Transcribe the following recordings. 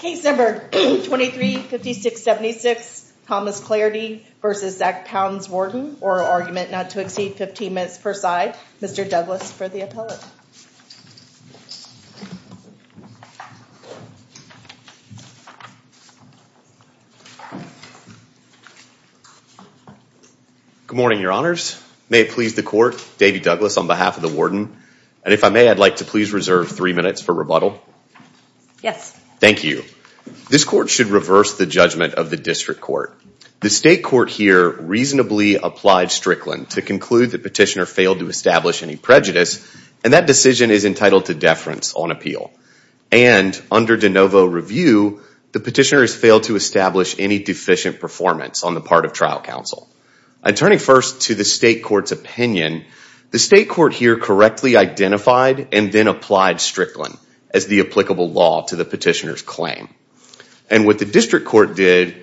Case number 235676 Thomas Clardy v. Zac Pounds, Warden. Oral argument not to exceed 15 minutes per side. Mr. Douglas for the appellate. Good morning, your honors. May it please the court, Davy Douglas on behalf of the warden. And if I may, I'd like to please reserve three minutes for rebuttal. Yes. Thank you. This court should reverse the judgment of the district court. The state court here reasonably applied Strickland to conclude the petitioner failed to establish any prejudice and that decision is entitled to deference on appeal. And under de novo review, the petitioner has failed to establish any deficient performance on the part of trial counsel. I'm turning first to the state court's opinion. The state court here correctly identified and then petitioner's claim. And what the district court did,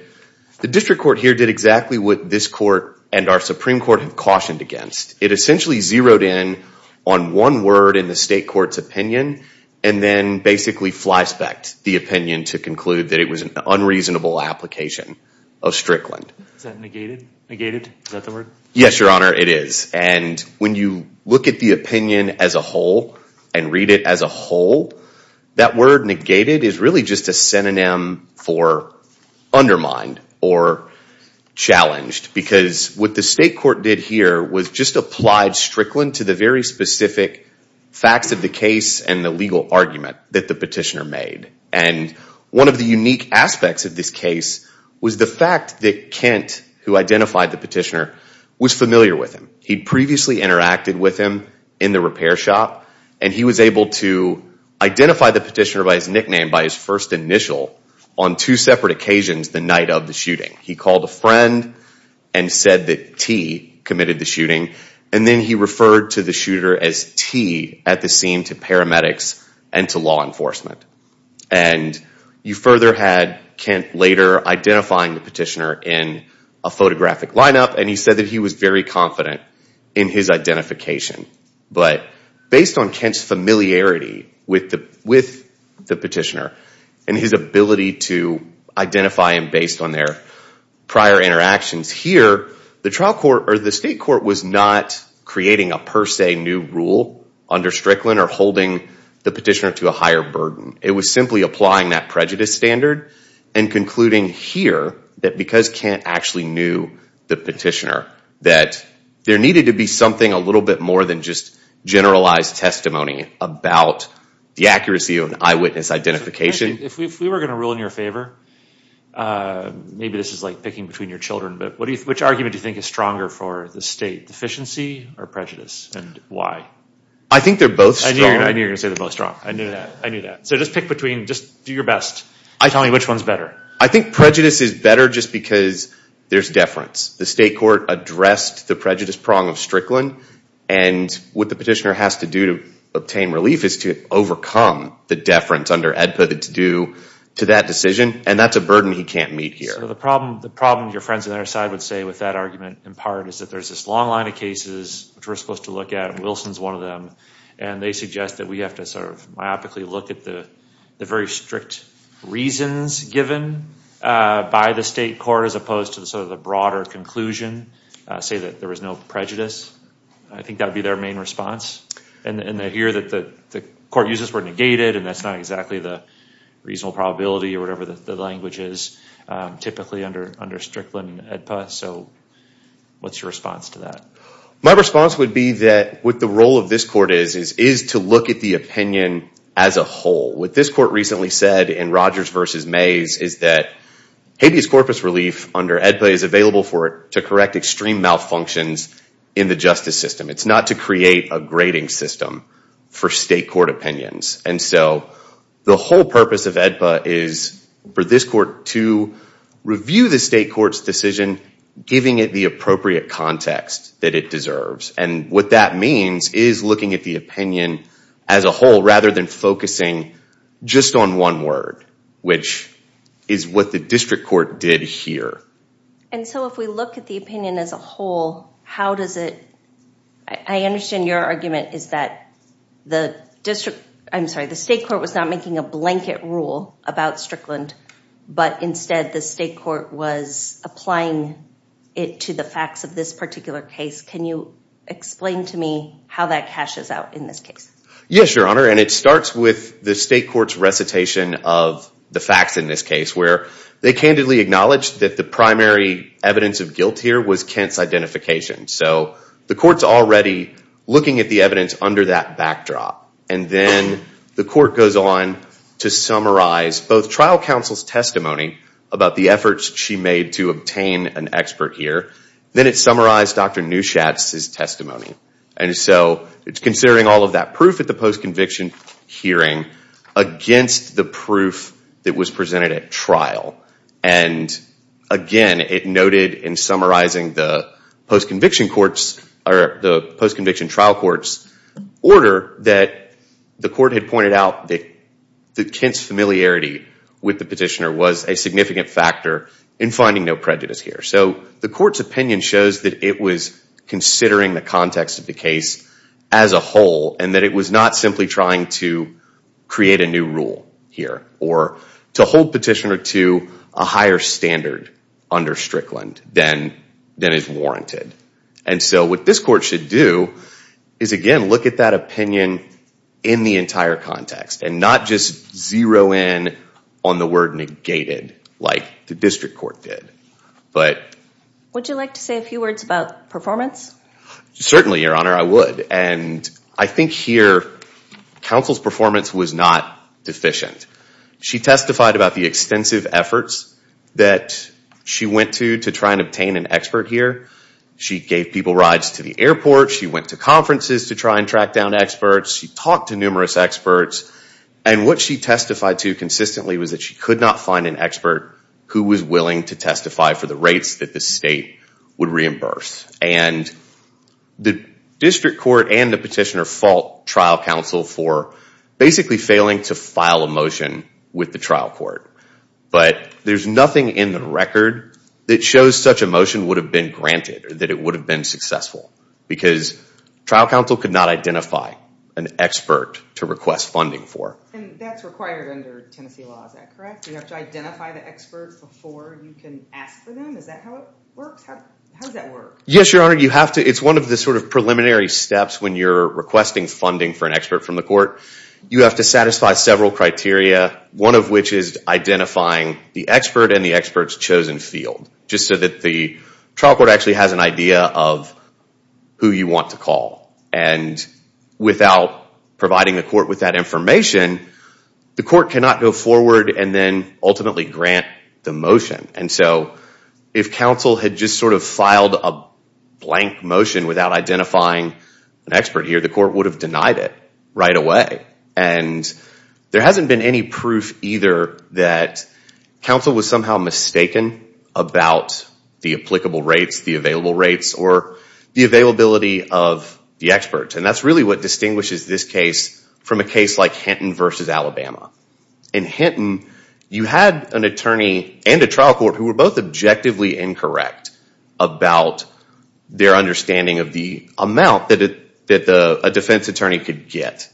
the district court here did exactly what this court and our Supreme Court have cautioned against. It essentially zeroed in on one word in the state court's opinion and then basically flyspecked the opinion to conclude that it was an unreasonable application of Strickland. Is that negated? Is that the word? Yes, your honor, it is. And when you look at the opinion as a whole and read it as a whole, that word negated is really just a synonym for undermined or challenged. Because what the state court did here was just applied Strickland to the very specific facts of the case and the legal argument that the petitioner made. And one of the unique aspects of this case was the fact that Kent, who identified the petitioner, was familiar with him. He'd previously interacted with him in the repair shop and he was able to identify the petitioner by his nickname by his first initial on two separate occasions the night of the shooting. He called a friend and said that T committed the shooting and then he referred to the shooter as T at the scene to paramedics and to law enforcement. And you further had Kent later identifying the petitioner in a different location. But based on Kent's familiarity with the petitioner and his ability to identify him based on their prior interactions here, the state court was not creating a per se new rule under Strickland or holding the petitioner to a higher burden. It was simply applying that prejudice standard and concluding here that because Kent actually knew the petitioner that there needed to be something a little bit more than just generalized testimony about the accuracy of an eyewitness identification. If we were going to rule in your favor, maybe this is like picking between your children, but which argument do you think is stronger for the state, deficiency or prejudice and why? I think they're both strong. I knew you were going to say they're both strong. I knew that. I knew that. So just pick between, just do your best. Tell me which one's better. I think prejudice is better just because there's deference. The state court addressed the prejudice prong of Strickland and what the petitioner has to do to obtain relief is to overcome the deference under AEDPA that's due to that decision. And that's a burden he can't meet here. So the problem your friends on the other side would say with that argument in part is that there's this long line of cases which we're supposed to look at, and Wilson's one of them, and they suggest that we have to sort of myopically look at the very strict reasons given by the state court as opposed to sort of the broader conclusion, say that there was no prejudice. I think that would be their main response. And I hear that the court uses the word negated and that's not exactly the reasonable probability or whatever the language is typically under Strickland and AEDPA. So what's your response to that? My response would be that what the role of this court is is to look at the opinion as a whole. What this court recently said in Rogers v. Mays is that habeas corpus relief under AEDPA is available for it to correct extreme malfunctions in the justice system. It's not to create a grading system for state court opinions. And so the whole purpose of AEDPA is for this court to review the state court's decision, giving it the appropriate context that it deserves. And what that means is looking at the opinion as a whole rather than focusing just on one word, which is what the district court did here. And so if we look at the opinion as a whole, how does it, I understand your argument is that the district, I'm sorry, the state court was not making a blanket rule about Strickland, but instead the state court was applying it to the facts of this particular case. Can you explain to me how that cashes out in this case? Yes, Your Honor. And it starts with the state court's recitation of the facts in this case where they candidly acknowledged that the primary evidence of guilt here was Kent's identification. So the court's already looking at the evidence under that backdrop. And then the court goes on to summarize both trial counsel's testimony about the efforts she made to obtain an expert here. Then it summarized Dr. Neuchatz's testimony. And so it's considering all of that proof at the post-conviction hearing against the proof that was presented at trial. And again, it noted in summarizing the post-conviction trial court's order that the court had pointed out that Kent's familiarity with the petitioner was a significant factor in finding no prejudice here. So the court's opinion shows that it was considering the context of the case as a whole and that it was not simply trying to create a new rule here or to hold petitioner to a higher standard under Strickland than is warranted. And so what this court should do is, again, look at that opinion in the entire context and not just zero in on the word negated like the district court did. Would you like to say a few words about performance? Certainly, Your Honor. I would. And I think here counsel's performance was not deficient. She testified about the extensive efforts that she went to to try and obtain an expert here. She gave people rides to the airport. She went to conferences to try and track down experts. She talked to numerous experts. And what she testified to consistently was that she could not find an expert who was willing to testify for the rates that the state would reimburse. And the district court and the petitioner fault trial counsel for basically failing to file a motion with the trial court. But there's nothing in the record that shows such a motion would have been granted or that it would have been successful because trial counsel could not identify an expert to request funding for. And that's required under Tennessee law. Is that correct? You have to identify the expert before you can ask for them? Is that how it works? How does that work? Yes, Your Honor. You have to. It's one of the sort of preliminary steps when you're requesting funding for an expert from the court. You have to satisfy several criteria, one of which is identifying the expert in the expert's chosen field just so that the trial court actually has an idea of who you want to call. And without providing the court with that information, the court cannot go forward and then ultimately grant the motion. And so if counsel had just sort of filed a blank motion without identifying an expert here, the court would have denied it right away. And there hasn't been any proof either that counsel was somehow mistaken about the applicable rates, the available rates, or the availability of the expert. And that's really what distinguishes this case from a case like Hinton v. Alabama. In Hinton, you had an attorney and a trial court who were both objectively incorrect about their understanding of the amount that a defense attorney could get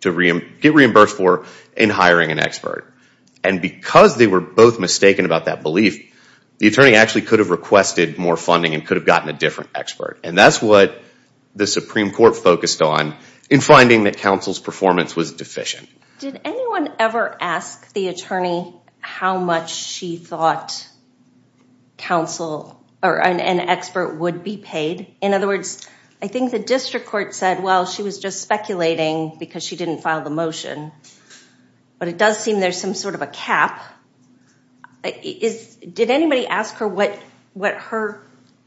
to get reimbursed for in hiring an expert. And because they were both mistaken about that belief, the attorney actually could have requested more funding and could have gotten a different expert. And that's what the Supreme Court focused on in finding that counsel's performance was deficient. Did anyone ever ask the attorney how much she thought an expert would be paid? In other words, I think the district court said, well, she was just speculating because she didn't file the motion. But it does seem there's some sort of a cap. Did anybody ask her what her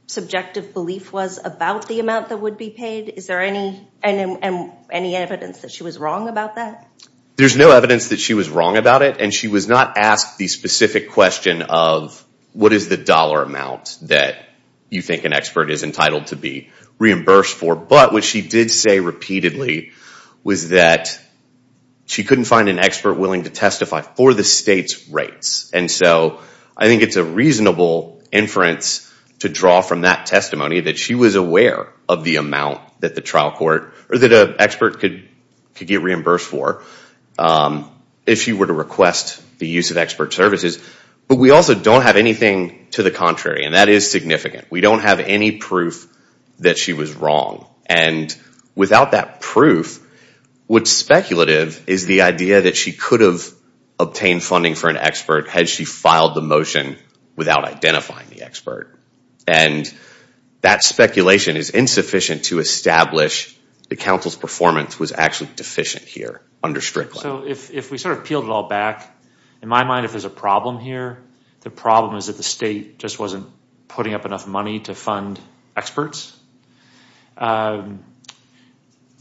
subjective belief was about the amount that would be paid? Is there any evidence that she was wrong about that? There's no evidence that she was wrong about it, and she was not asked the specific question of what is the dollar amount that you think an expert is entitled to be reimbursed for. But what she did say repeatedly was that she couldn't find an expert willing to testify for the state's rates. And so I think it's a reasonable inference to draw from that testimony that she was aware of the amount that the trial court or that an expert could get reimbursed for if she were to request the use of expert services. But we also don't have anything to the contrary, and that is significant. We don't have any proof that she was wrong. And without that proof, what's speculative is the idea that she could have obtained funding for an expert had she filed the motion without identifying the expert. And that speculation is insufficient to establish that counsel's performance was actually deficient here under Strickland. So if we sort of peeled it all back, in my mind, if there's a problem here, the problem is that the state just wasn't putting up enough money to fund experts.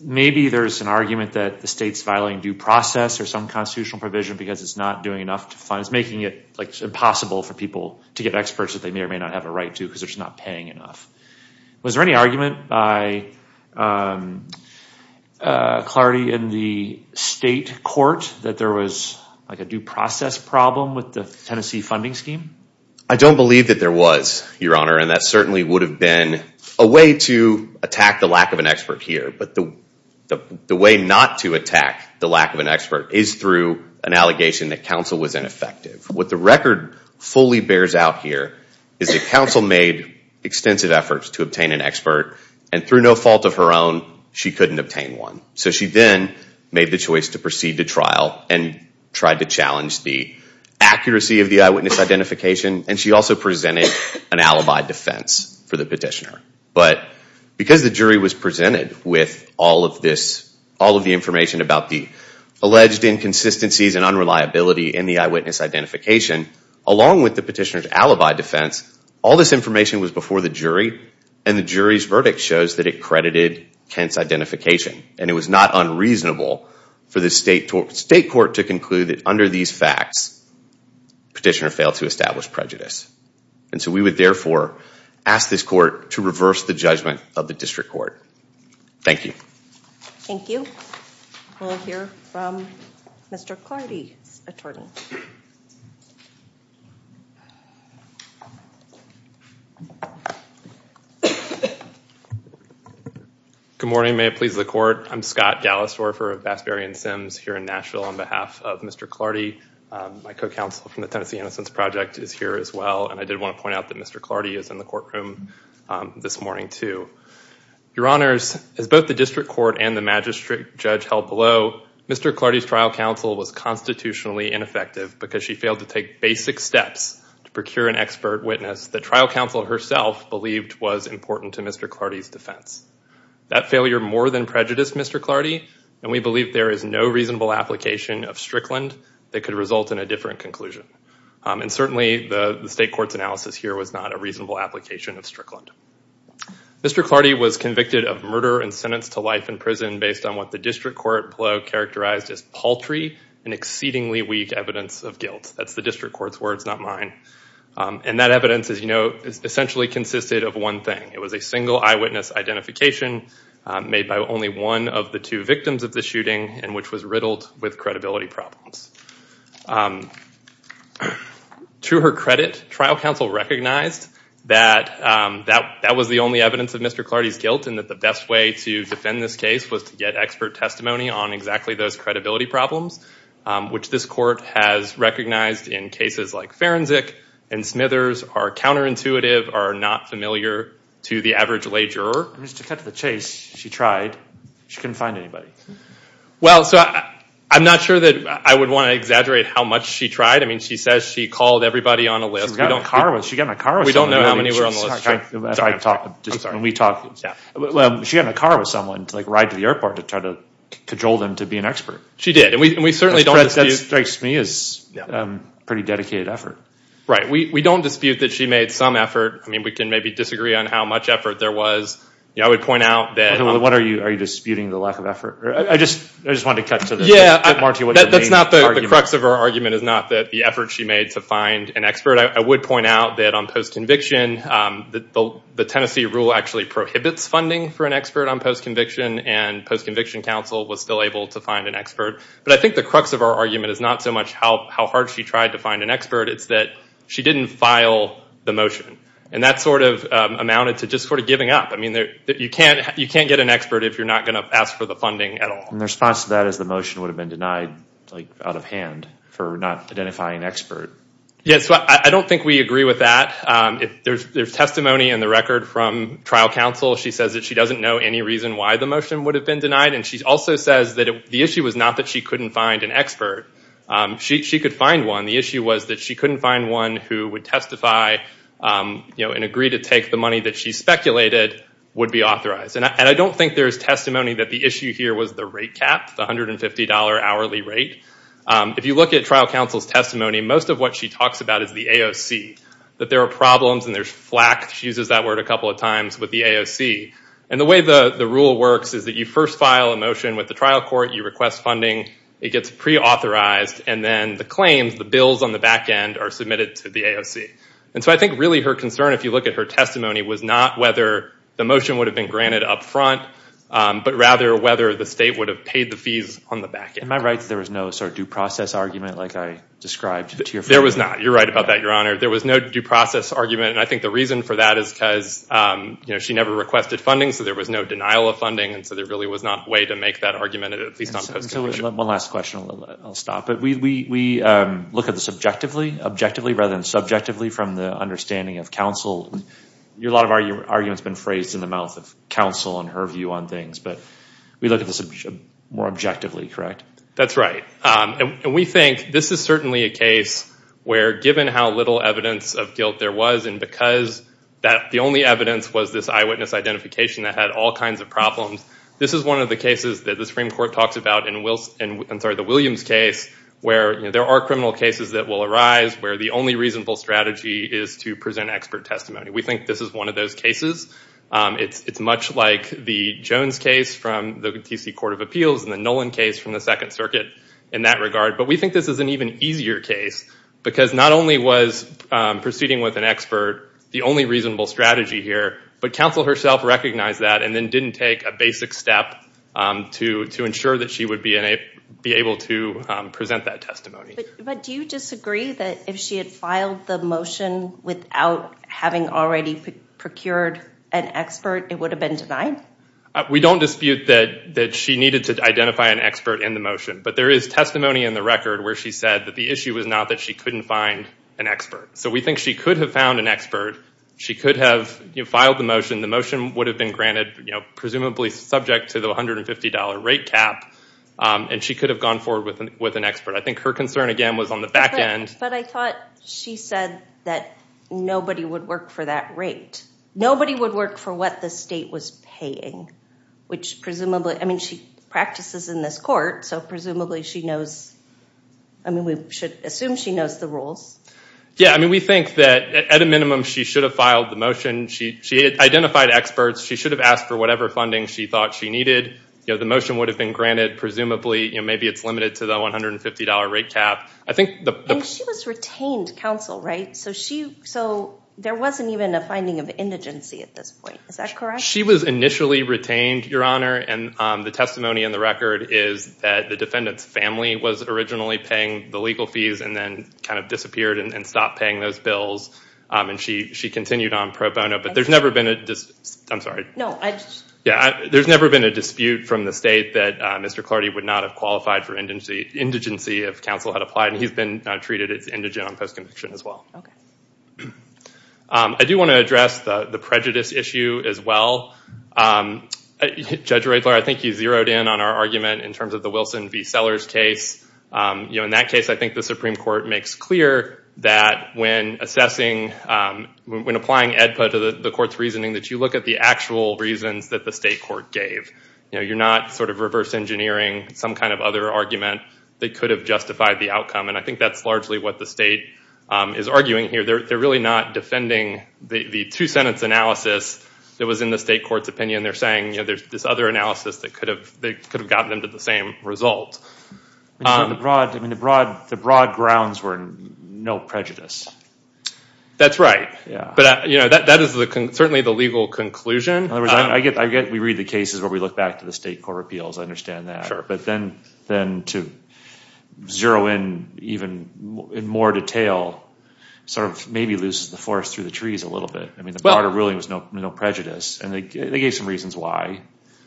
Maybe there's an argument that the state's violating due process or some constitutional provision because it's not doing enough to funds, making it impossible for people to get experts that they may or may not have a right to because they're just not paying enough. Was there any argument by Clardy in the state court that there was a due process problem with the Tennessee funding scheme? I don't believe that there was, Your Honor, and that certainly would have been a way to attack the lack of an expert here. But the way not to attack the lack of an expert is through an allegation that counsel was ineffective. What the record fully bears out here is that counsel made extensive efforts to obtain an expert, and through no fault of her own, she couldn't obtain one. So she then made the choice to proceed to trial and tried to challenge the accuracy of the eyewitness identification, and she also presented an alibi defense for the petitioner. But because the jury was presented with all of the information about the alleged inconsistencies and unreliability in the eyewitness identification, along with the petitioner's alibi defense, all this information was before the jury, and the jury's verdict shows that it credited Kent's identification, and it was not unreasonable for the state court to conclude that under these facts, the petitioner failed to establish prejudice. And so we would therefore ask this court to reverse the judgment of the district court. Thank you. Thank you. We'll hear from Mr. Clarity's attorney. Good morning. May it please the court. I'm Scott Gallistorfer of Bassbury and Sims here in Nashville on behalf of Mr. Clarity. My co-counsel from the Tennessee Innocence Project is here as well, and I did want to point out that Mr. Clarity is in the courtroom this morning, too. Your honors, as both the district court and the magistrate judge held below, Mr. Clarity's trial counsel was constitutionally ineffective because she failed to take basic steps to procure an expert witness that trial counsel herself believed was important to Mr. Clarity's defense. That failure more than prejudiced Mr. Clarity, and we believe there is no reasonable application of Strickland that could result in a different conclusion. And certainly the state court's analysis here was not a reasonable application of Strickland. Mr. Clarity was convicted of murder and sentenced to life in prison based on what the district court below characterized as paltry and exceedingly weak evidence of guilt. That's the district court's words, not mine. And that evidence, as you know, essentially consisted of one thing. It was a single eyewitness identification made by only one of the two victims of the shooting and which was riddled with credibility problems. To her credit, trial counsel recognized that that was the only evidence of Mr. Clarity's guilt and that the best way to defend this case was to get expert testimony on exactly those credibility problems, which this court has recognized in cases like forensic and Smithers are counterintuitive, are not familiar to the average lay juror. Mr. Cutthroat's case, she tried. She couldn't find anybody. Well, I'm not sure that I would want to exaggerate how much she tried. I mean, she says she called everybody on a list. She got in a car with someone. We don't know how many were on the list. I'm sorry. She got in a car with someone to ride to the airport to try to cajole them to be an expert. She did. That strikes me as a pretty dedicated effort. Right. We don't dispute that she made some effort. I mean, we can maybe disagree on how much effort there was. I would point out that— Are you disputing the lack of effort? I just wanted to cut to the— That's not the crux of her argument is not that the effort she made to find an expert. I would point out that on post-conviction, the Tennessee rule actually prohibits funding for an expert on post-conviction, and post-conviction counsel was still able to find an expert. But I think the crux of her argument is not so much how hard she tried to find an expert. It's that she didn't file the motion, and that sort of amounted to just sort of giving up. I mean, you can't get an expert if you're not going to ask for the funding at all. And the response to that is the motion would have been denied out of hand for not identifying an expert. Yeah, so I don't think we agree with that. There's testimony in the record from trial counsel. She says that she doesn't know any reason why the motion would have been denied, and she also says that the issue was not that she couldn't find an expert. She could find one. The issue was that she couldn't find one who would testify and agree to take the money that she speculated would be authorized. And I don't think there's testimony that the issue here was the rate cap, the $150 hourly rate. If you look at trial counsel's testimony, most of what she talks about is the AOC, that there are problems and there's flack. She uses that word a couple of times with the AOC. And the way the rule works is that you first file a motion with the trial court, you request funding, it gets pre-authorized, and then the claims, the bills on the back end, are submitted to the AOC. And so I think really her concern, if you look at her testimony, was not whether the motion would have been granted up front, but rather whether the state would have paid the fees on the back end. In my rights, there was no sort of due process argument like I described to your friend. There was not. You're right about that, Your Honor. There was no due process argument, and I think the reason for that is because she never requested funding, so there was no denial of funding, and so there really was not a way to make that argument at least on post-conviction. One last question, and then I'll stop. We look at this objectively rather than subjectively from the understanding of counsel. A lot of your argument has been phrased in the mouth of counsel and her view on things, but we look at this more objectively, correct? That's right, and we think this is certainly a case where given how little evidence of guilt there was and because the only evidence was this eyewitness identification that had all kinds of problems, this is one of the cases that the Supreme Court talks about in the Williams case where there are criminal cases that will arise where the only reasonable strategy is to present expert testimony. We think this is one of those cases. It's much like the Jones case from the T.C. Court of Appeals and the Nolan case from the Second Circuit in that regard, but we think this is an even easier case because not only was proceeding with an expert the only reasonable strategy here, but counsel herself recognized that and then didn't take a basic step to ensure that she would be able to present that testimony. But do you disagree that if she had filed the motion without having already procured an expert, it would have been denied? We don't dispute that she needed to identify an expert in the motion, but there is testimony in the record where she said that the issue was not that she couldn't find an expert. So we think she could have found an expert. She could have filed the motion. The motion would have been granted, presumably subject to the $150 rate cap, and she could have gone forward with an expert. I think her concern, again, was on the back end. But I thought she said that nobody would work for that rate. Nobody would work for what the state was paying, which presumably, I mean, she practices in this court, so presumably she knows. I mean, we should assume she knows the rules. Yeah, I mean, we think that at a minimum she should have filed the motion. She identified experts. She should have asked for whatever funding she thought she needed. The motion would have been granted, presumably. Maybe it's limited to the $150 rate cap. I think the- And she was retained counsel, right? So there wasn't even a finding of indigency at this point. Is that correct? She was initially retained, Your Honor. And the testimony in the record is that the defendant's family was originally paying the legal fees and then kind of disappeared and stopped paying those bills. And she continued on pro bono. But there's never been a dispute from the state that Mr. Clardy would not have qualified for indigency if counsel had applied. And he's been treated as indigent on post-conviction as well. I do want to address the prejudice issue as well. Judge Riedler, I think you zeroed in on our argument in terms of the Wilson v. Sellers case. In that case, I think the Supreme Court makes clear that when assessing, when applying EDPA to the court's reasoning, that you look at the actual reasons that the state court gave. You're not sort of reverse engineering some kind of other argument that could have justified the outcome. And I think that's largely what the state is arguing here. They're really not defending the two-sentence analysis that was in the state court's opinion. They're saying there's this other analysis that could have gotten them to the same result. The broad grounds were no prejudice. That's right. But that is certainly the legal conclusion. I get we read the cases where we look back to the state court appeals. I understand that. But then to zero in even in more detail sort of maybe loses the forest through the trees a little bit. The broader ruling was no prejudice. And they gave some reasons why.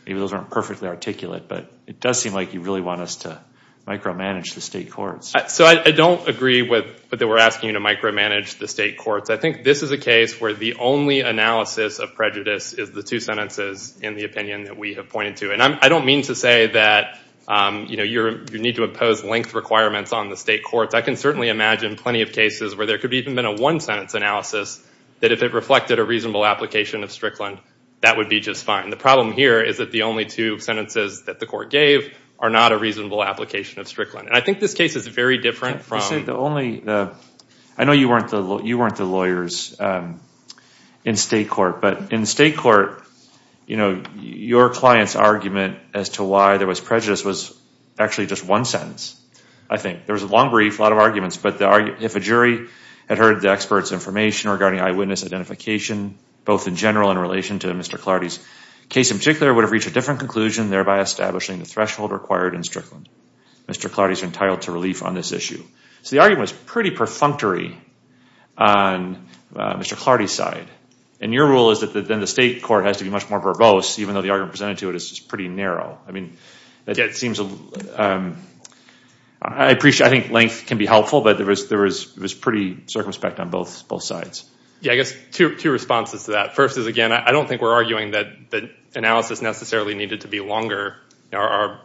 Maybe those aren't perfectly articulate. But it does seem like you really want us to micromanage the state courts. So I don't agree with what they were asking you to micromanage the state courts. I think this is a case where the only analysis of prejudice is the two sentences in the opinion that we have pointed to. And I don't mean to say that you need to impose length requirements on the state courts. I can certainly imagine plenty of cases where there could even been a one-sentence analysis that if it reflected a reasonable application of Strickland, that would be just fine. The problem here is that the only two sentences that the court gave are not a reasonable application of Strickland. And I think this case is very different from. I know you weren't the lawyers in state court. But in state court, your client's argument as to why there was prejudice was actually just one sentence, I think. There was a long brief, a lot of arguments. But if a jury had heard the expert's information regarding eyewitness identification, both in general in relation to Mr. Clardy's case in particular, would have reached a different conclusion, thereby establishing the threshold required in Strickland. Mr. Clardy's entitled to relief on this issue. So the argument was pretty perfunctory on Mr. Clardy's side. And your rule is that then the state court has to be much more verbose, even though the argument presented to it is pretty narrow. I mean, I think length can be helpful. But there was pretty circumspect on both sides. Yeah, I guess two responses to that. First is, again, I don't think we're arguing that analysis necessarily needed to be longer. Our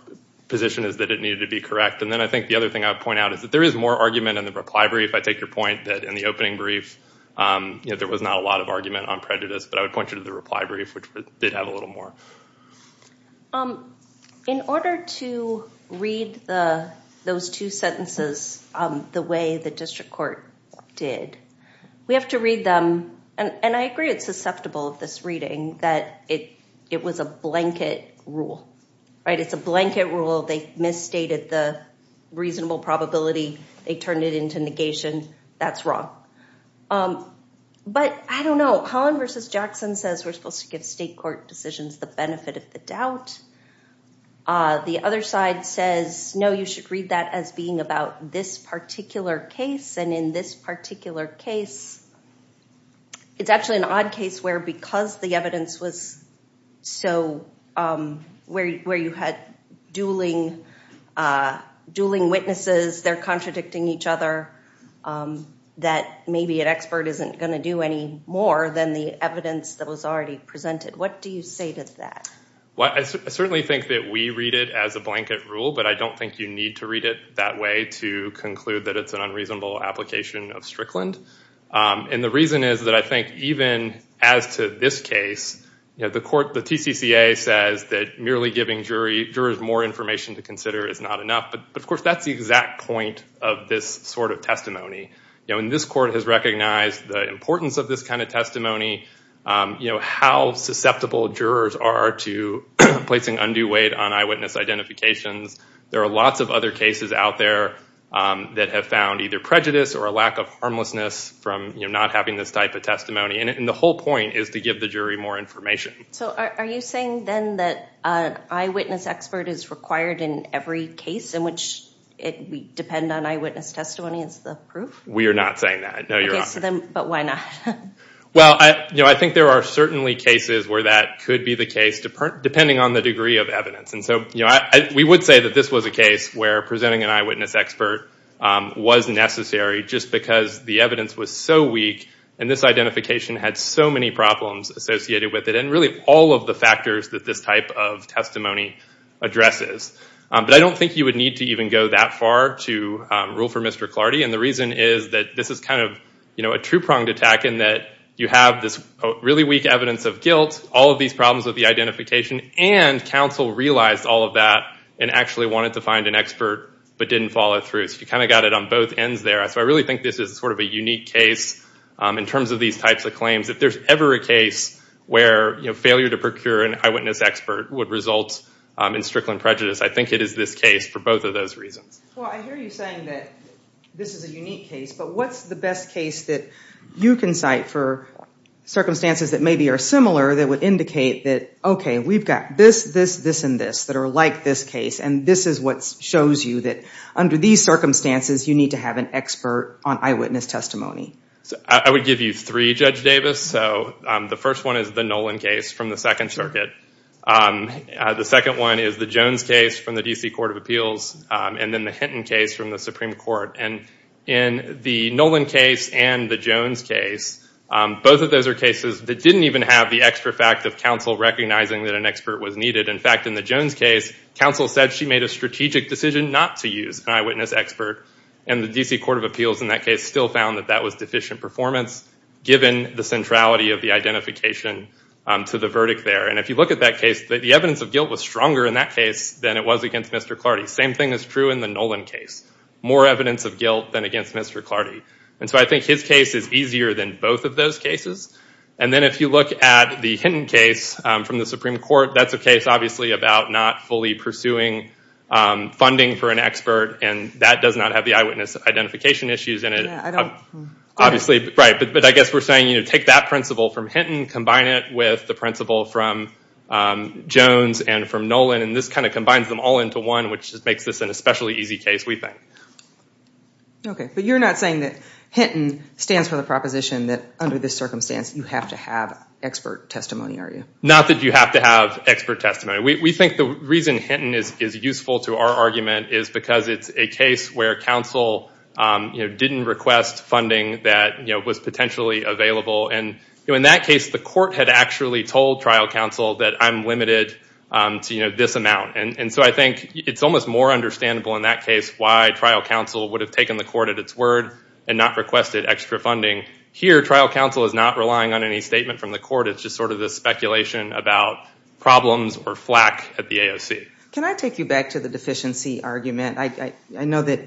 position is that it needed to be correct. And then I think the other thing I would point out is that there is more argument in the reply brief. I take your point that in the opening brief, there was not a lot of argument on prejudice. But I would point you to the reply brief, which did have a little more. In order to read those two sentences the way the district court did, we have to read them. And I agree it's susceptible of this reading that it was a blanket rule. It's a blanket rule. They misstated the reasonable probability. They turned it into negation. That's wrong. But I don't know. Holland versus Jackson says we're supposed to give state court decisions the benefit of the doubt. The other side says, no, you should read that as being about this particular case. And in this particular case, it's actually an odd case where because the evidence was so where you had dueling witnesses, they're contradicting each other, that maybe an expert isn't going to do any more than the evidence that was already presented. What do you say to that? I certainly think that we read it as a blanket rule. But I don't think you need to read it that way to conclude that it's an unreasonable application of Strickland. And the reason is that I think even as to this case, the court, the TCCA says that merely giving jurors more information to consider is not enough. But of course, that's the exact point of this sort of testimony. And this court has recognized the importance of this kind of testimony, how susceptible jurors are to placing undue weight on eyewitness identifications. There are lots of other cases out there that have found either prejudice or a lack of harmlessness from not having this type of testimony. And the whole point is to give the jury more information. So are you saying, then, that an eyewitness expert is required in every case in which it would depend on eyewitness testimony as the proof? We are not saying that. No, Your Honor. But why not? Well, I think there are certainly cases where that could be the case, depending on the degree of evidence. And so we would say that this was a case where presenting an eyewitness expert was necessary just because the evidence was so weak. And this identification had so many problems associated with it and really all of the factors that this type of testimony addresses. But I don't think you would need to even go that far to rule for Mr. Clardy. And the reason is that this is kind of a two-pronged attack in that you have this really weak evidence of guilt, all of these problems with the identification, and counsel realized all of that and actually wanted to find an expert but didn't follow through. So you kind of got it on both ends there. So I really think this is sort of a unique case in terms of these types of claims. If there's ever a case where failure to procure an eyewitness expert would result in Strickland prejudice, I think it is this case for both of those reasons. Well, I hear you saying that this is a unique case. But what's the best case that you can cite for circumstances that maybe are similar that would indicate that, OK, we've got this, this, this, and this that are like this case, and this is what shows you that under these circumstances, you need to have an expert on eyewitness testimony? I would give you three, Judge Davis. So the first one is the Nolan case from the Second Circuit. The second one is the Jones case from the DC Court of Appeals and then the Hinton case from the Supreme Court. And in the Nolan case and the Jones case, both of those are cases that didn't even have the extra fact of counsel recognizing that an expert was needed. In fact, in the Jones case, counsel said she made a strategic decision not to use an eyewitness expert. And the DC Court of Appeals in that case still found that that was deficient performance, given the centrality of the identification to the verdict there. And if you look at that case, the evidence of guilt was stronger in that case than it was against Mr. Clardy. Same thing is true in the Nolan case. More evidence of guilt than against Mr. Clardy. And so I think his case is easier than both of those cases. And then if you look at the Hinton case from the Supreme Court, that's a case, obviously, about not fully pursuing funding for an expert. And that does not have the eyewitness identification issues in it, obviously. But I guess we're saying, take that principle from Hinton, combine it with the principle from Jones and from Nolan. And this kind of combines them all into one, which makes this an especially easy case, we think. OK. But you're not saying that Hinton stands for the proposition that under this circumstance you have to have expert testimony, are you? Not that you have to have expert testimony. We think the reason Hinton is useful to our argument is because it's a case where counsel didn't request funding that was potentially available. And in that case, the court had actually told trial counsel that I'm limited to this amount. And so I think it's almost more understandable in that case why trial counsel would have taken the court at its word and not requested extra funding. Here, trial counsel is not relying on any statement from the court. It's just sort of this speculation about problems or flack at the AOC. Can I take you back to the deficiency argument? I know that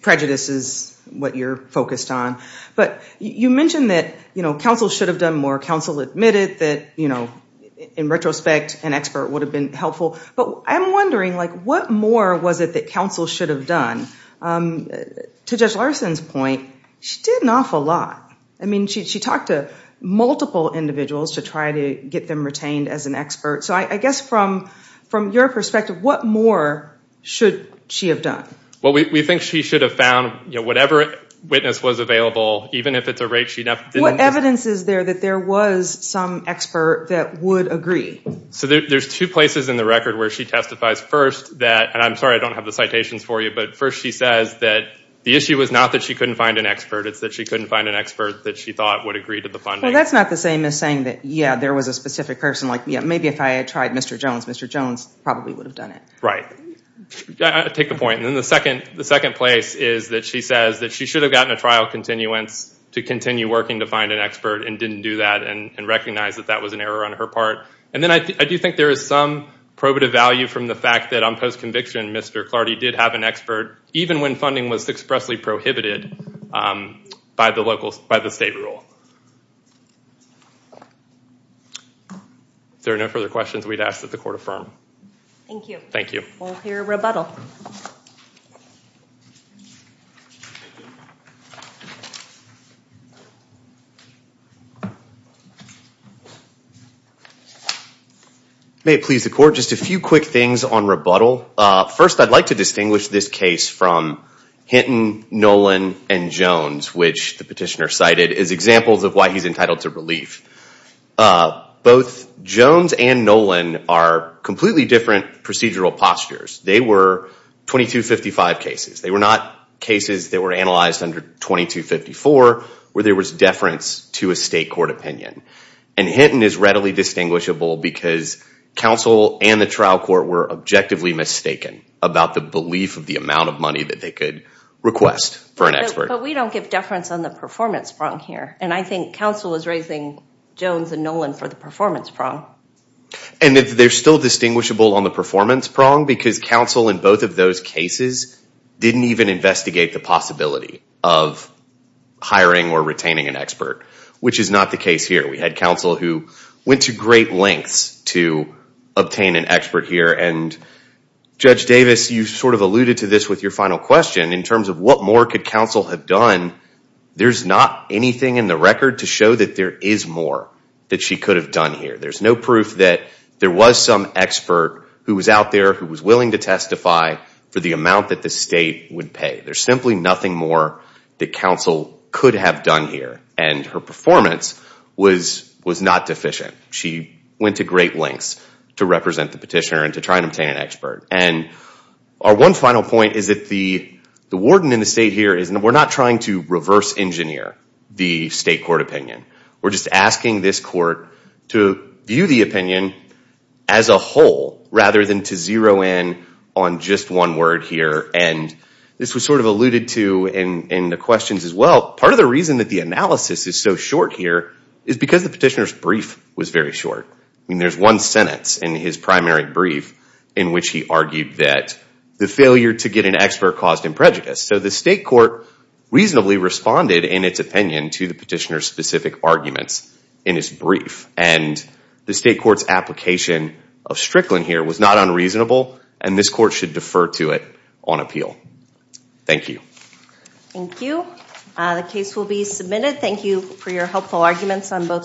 prejudice is what you're focused on. But you mentioned that counsel should have done more. Counsel admitted that, in retrospect, an expert would have been helpful. But I'm wondering, what more was it that counsel should have done? To Judge Larson's point, she did an awful lot. I mean, she talked to multiple individuals to try to get them retained as an expert. So I guess from your perspective, what more should she have done? Well, we think she should have found whatever witness was available, even if it's a rate she didn't have. What evidence is there that there was some expert that would agree? So there's two places in the record where she testifies. First, that, and I'm sorry I don't have the citations for you, but first she says that the issue was not that she couldn't find an expert. It's that she couldn't find an expert that she thought would agree to the funding. Well, that's not the same as saying that, yeah, there was a specific person. Maybe if I had tried Mr. Jones, Mr. Jones probably would have done it. Right. I take the point. And then the second place is that she says that she should have gotten a trial continuance to continue working to find an expert and didn't do that and recognize that that was an error on her part. And then I do think there is some probative value from the fact that on post-conviction, Mr. Clardy did have an expert, even when funding was expressly prohibited by the state rule. If there are no further questions, we'd ask that the court affirm. Thank you. Thank you. We'll hear a rebuttal. May it please the court, just a few quick things on rebuttal. First, I'd like to distinguish this case from Hinton, Nolan, and Jones, which the petitioner cited, as examples of why he's entitled to relief. Both Jones and Nolan are completely different procedural postures. They were 2255 cases. They were not cases that were analyzed under 2254, where there was deference to a state court opinion. And Hinton is readily distinguishable because counsel and the trial court were objectively mistaken about the belief of the amount of money that they could request for an expert. But we don't give deference on the performance sprung here. And I think counsel is raising Jones and Nolan for the performance prong. And they're still distinguishable on the performance prong, because counsel in both of those cases didn't even investigate the possibility of hiring or retaining an expert, which is not the case here. We had counsel who went to great lengths to obtain an expert here. And Judge Davis, you sort of alluded to this with your final question. In terms of what more could counsel have done, there's not anything in the record to show that there is more that she could have done here. There's no proof that there was some expert who was out there who was willing to testify for the amount that the state would pay. There's simply nothing more that counsel could have done here. And her performance was not deficient. She went to great lengths to represent the petitioner and to try and obtain an expert. And our one final point is that the warden in the state here is we're not trying to reverse engineer the state court opinion. We're just asking this court to view the opinion as a whole rather than to zero in on just one word here. And this was sort of alluded to in the questions as well. Part of the reason that the analysis is so short here is because the petitioner's brief was very short. I mean, there's one sentence in his primary brief in which he argued that the failure to get an expert caused him prejudice. So the state court reasonably responded in its opinion to the petitioner's specific arguments in his brief. And the state court's application of Strickland here was not unreasonable. And this court should defer to it on appeal. Thank you. Thank you. The case will be submitted. Thank you for your helpful arguments on both sides.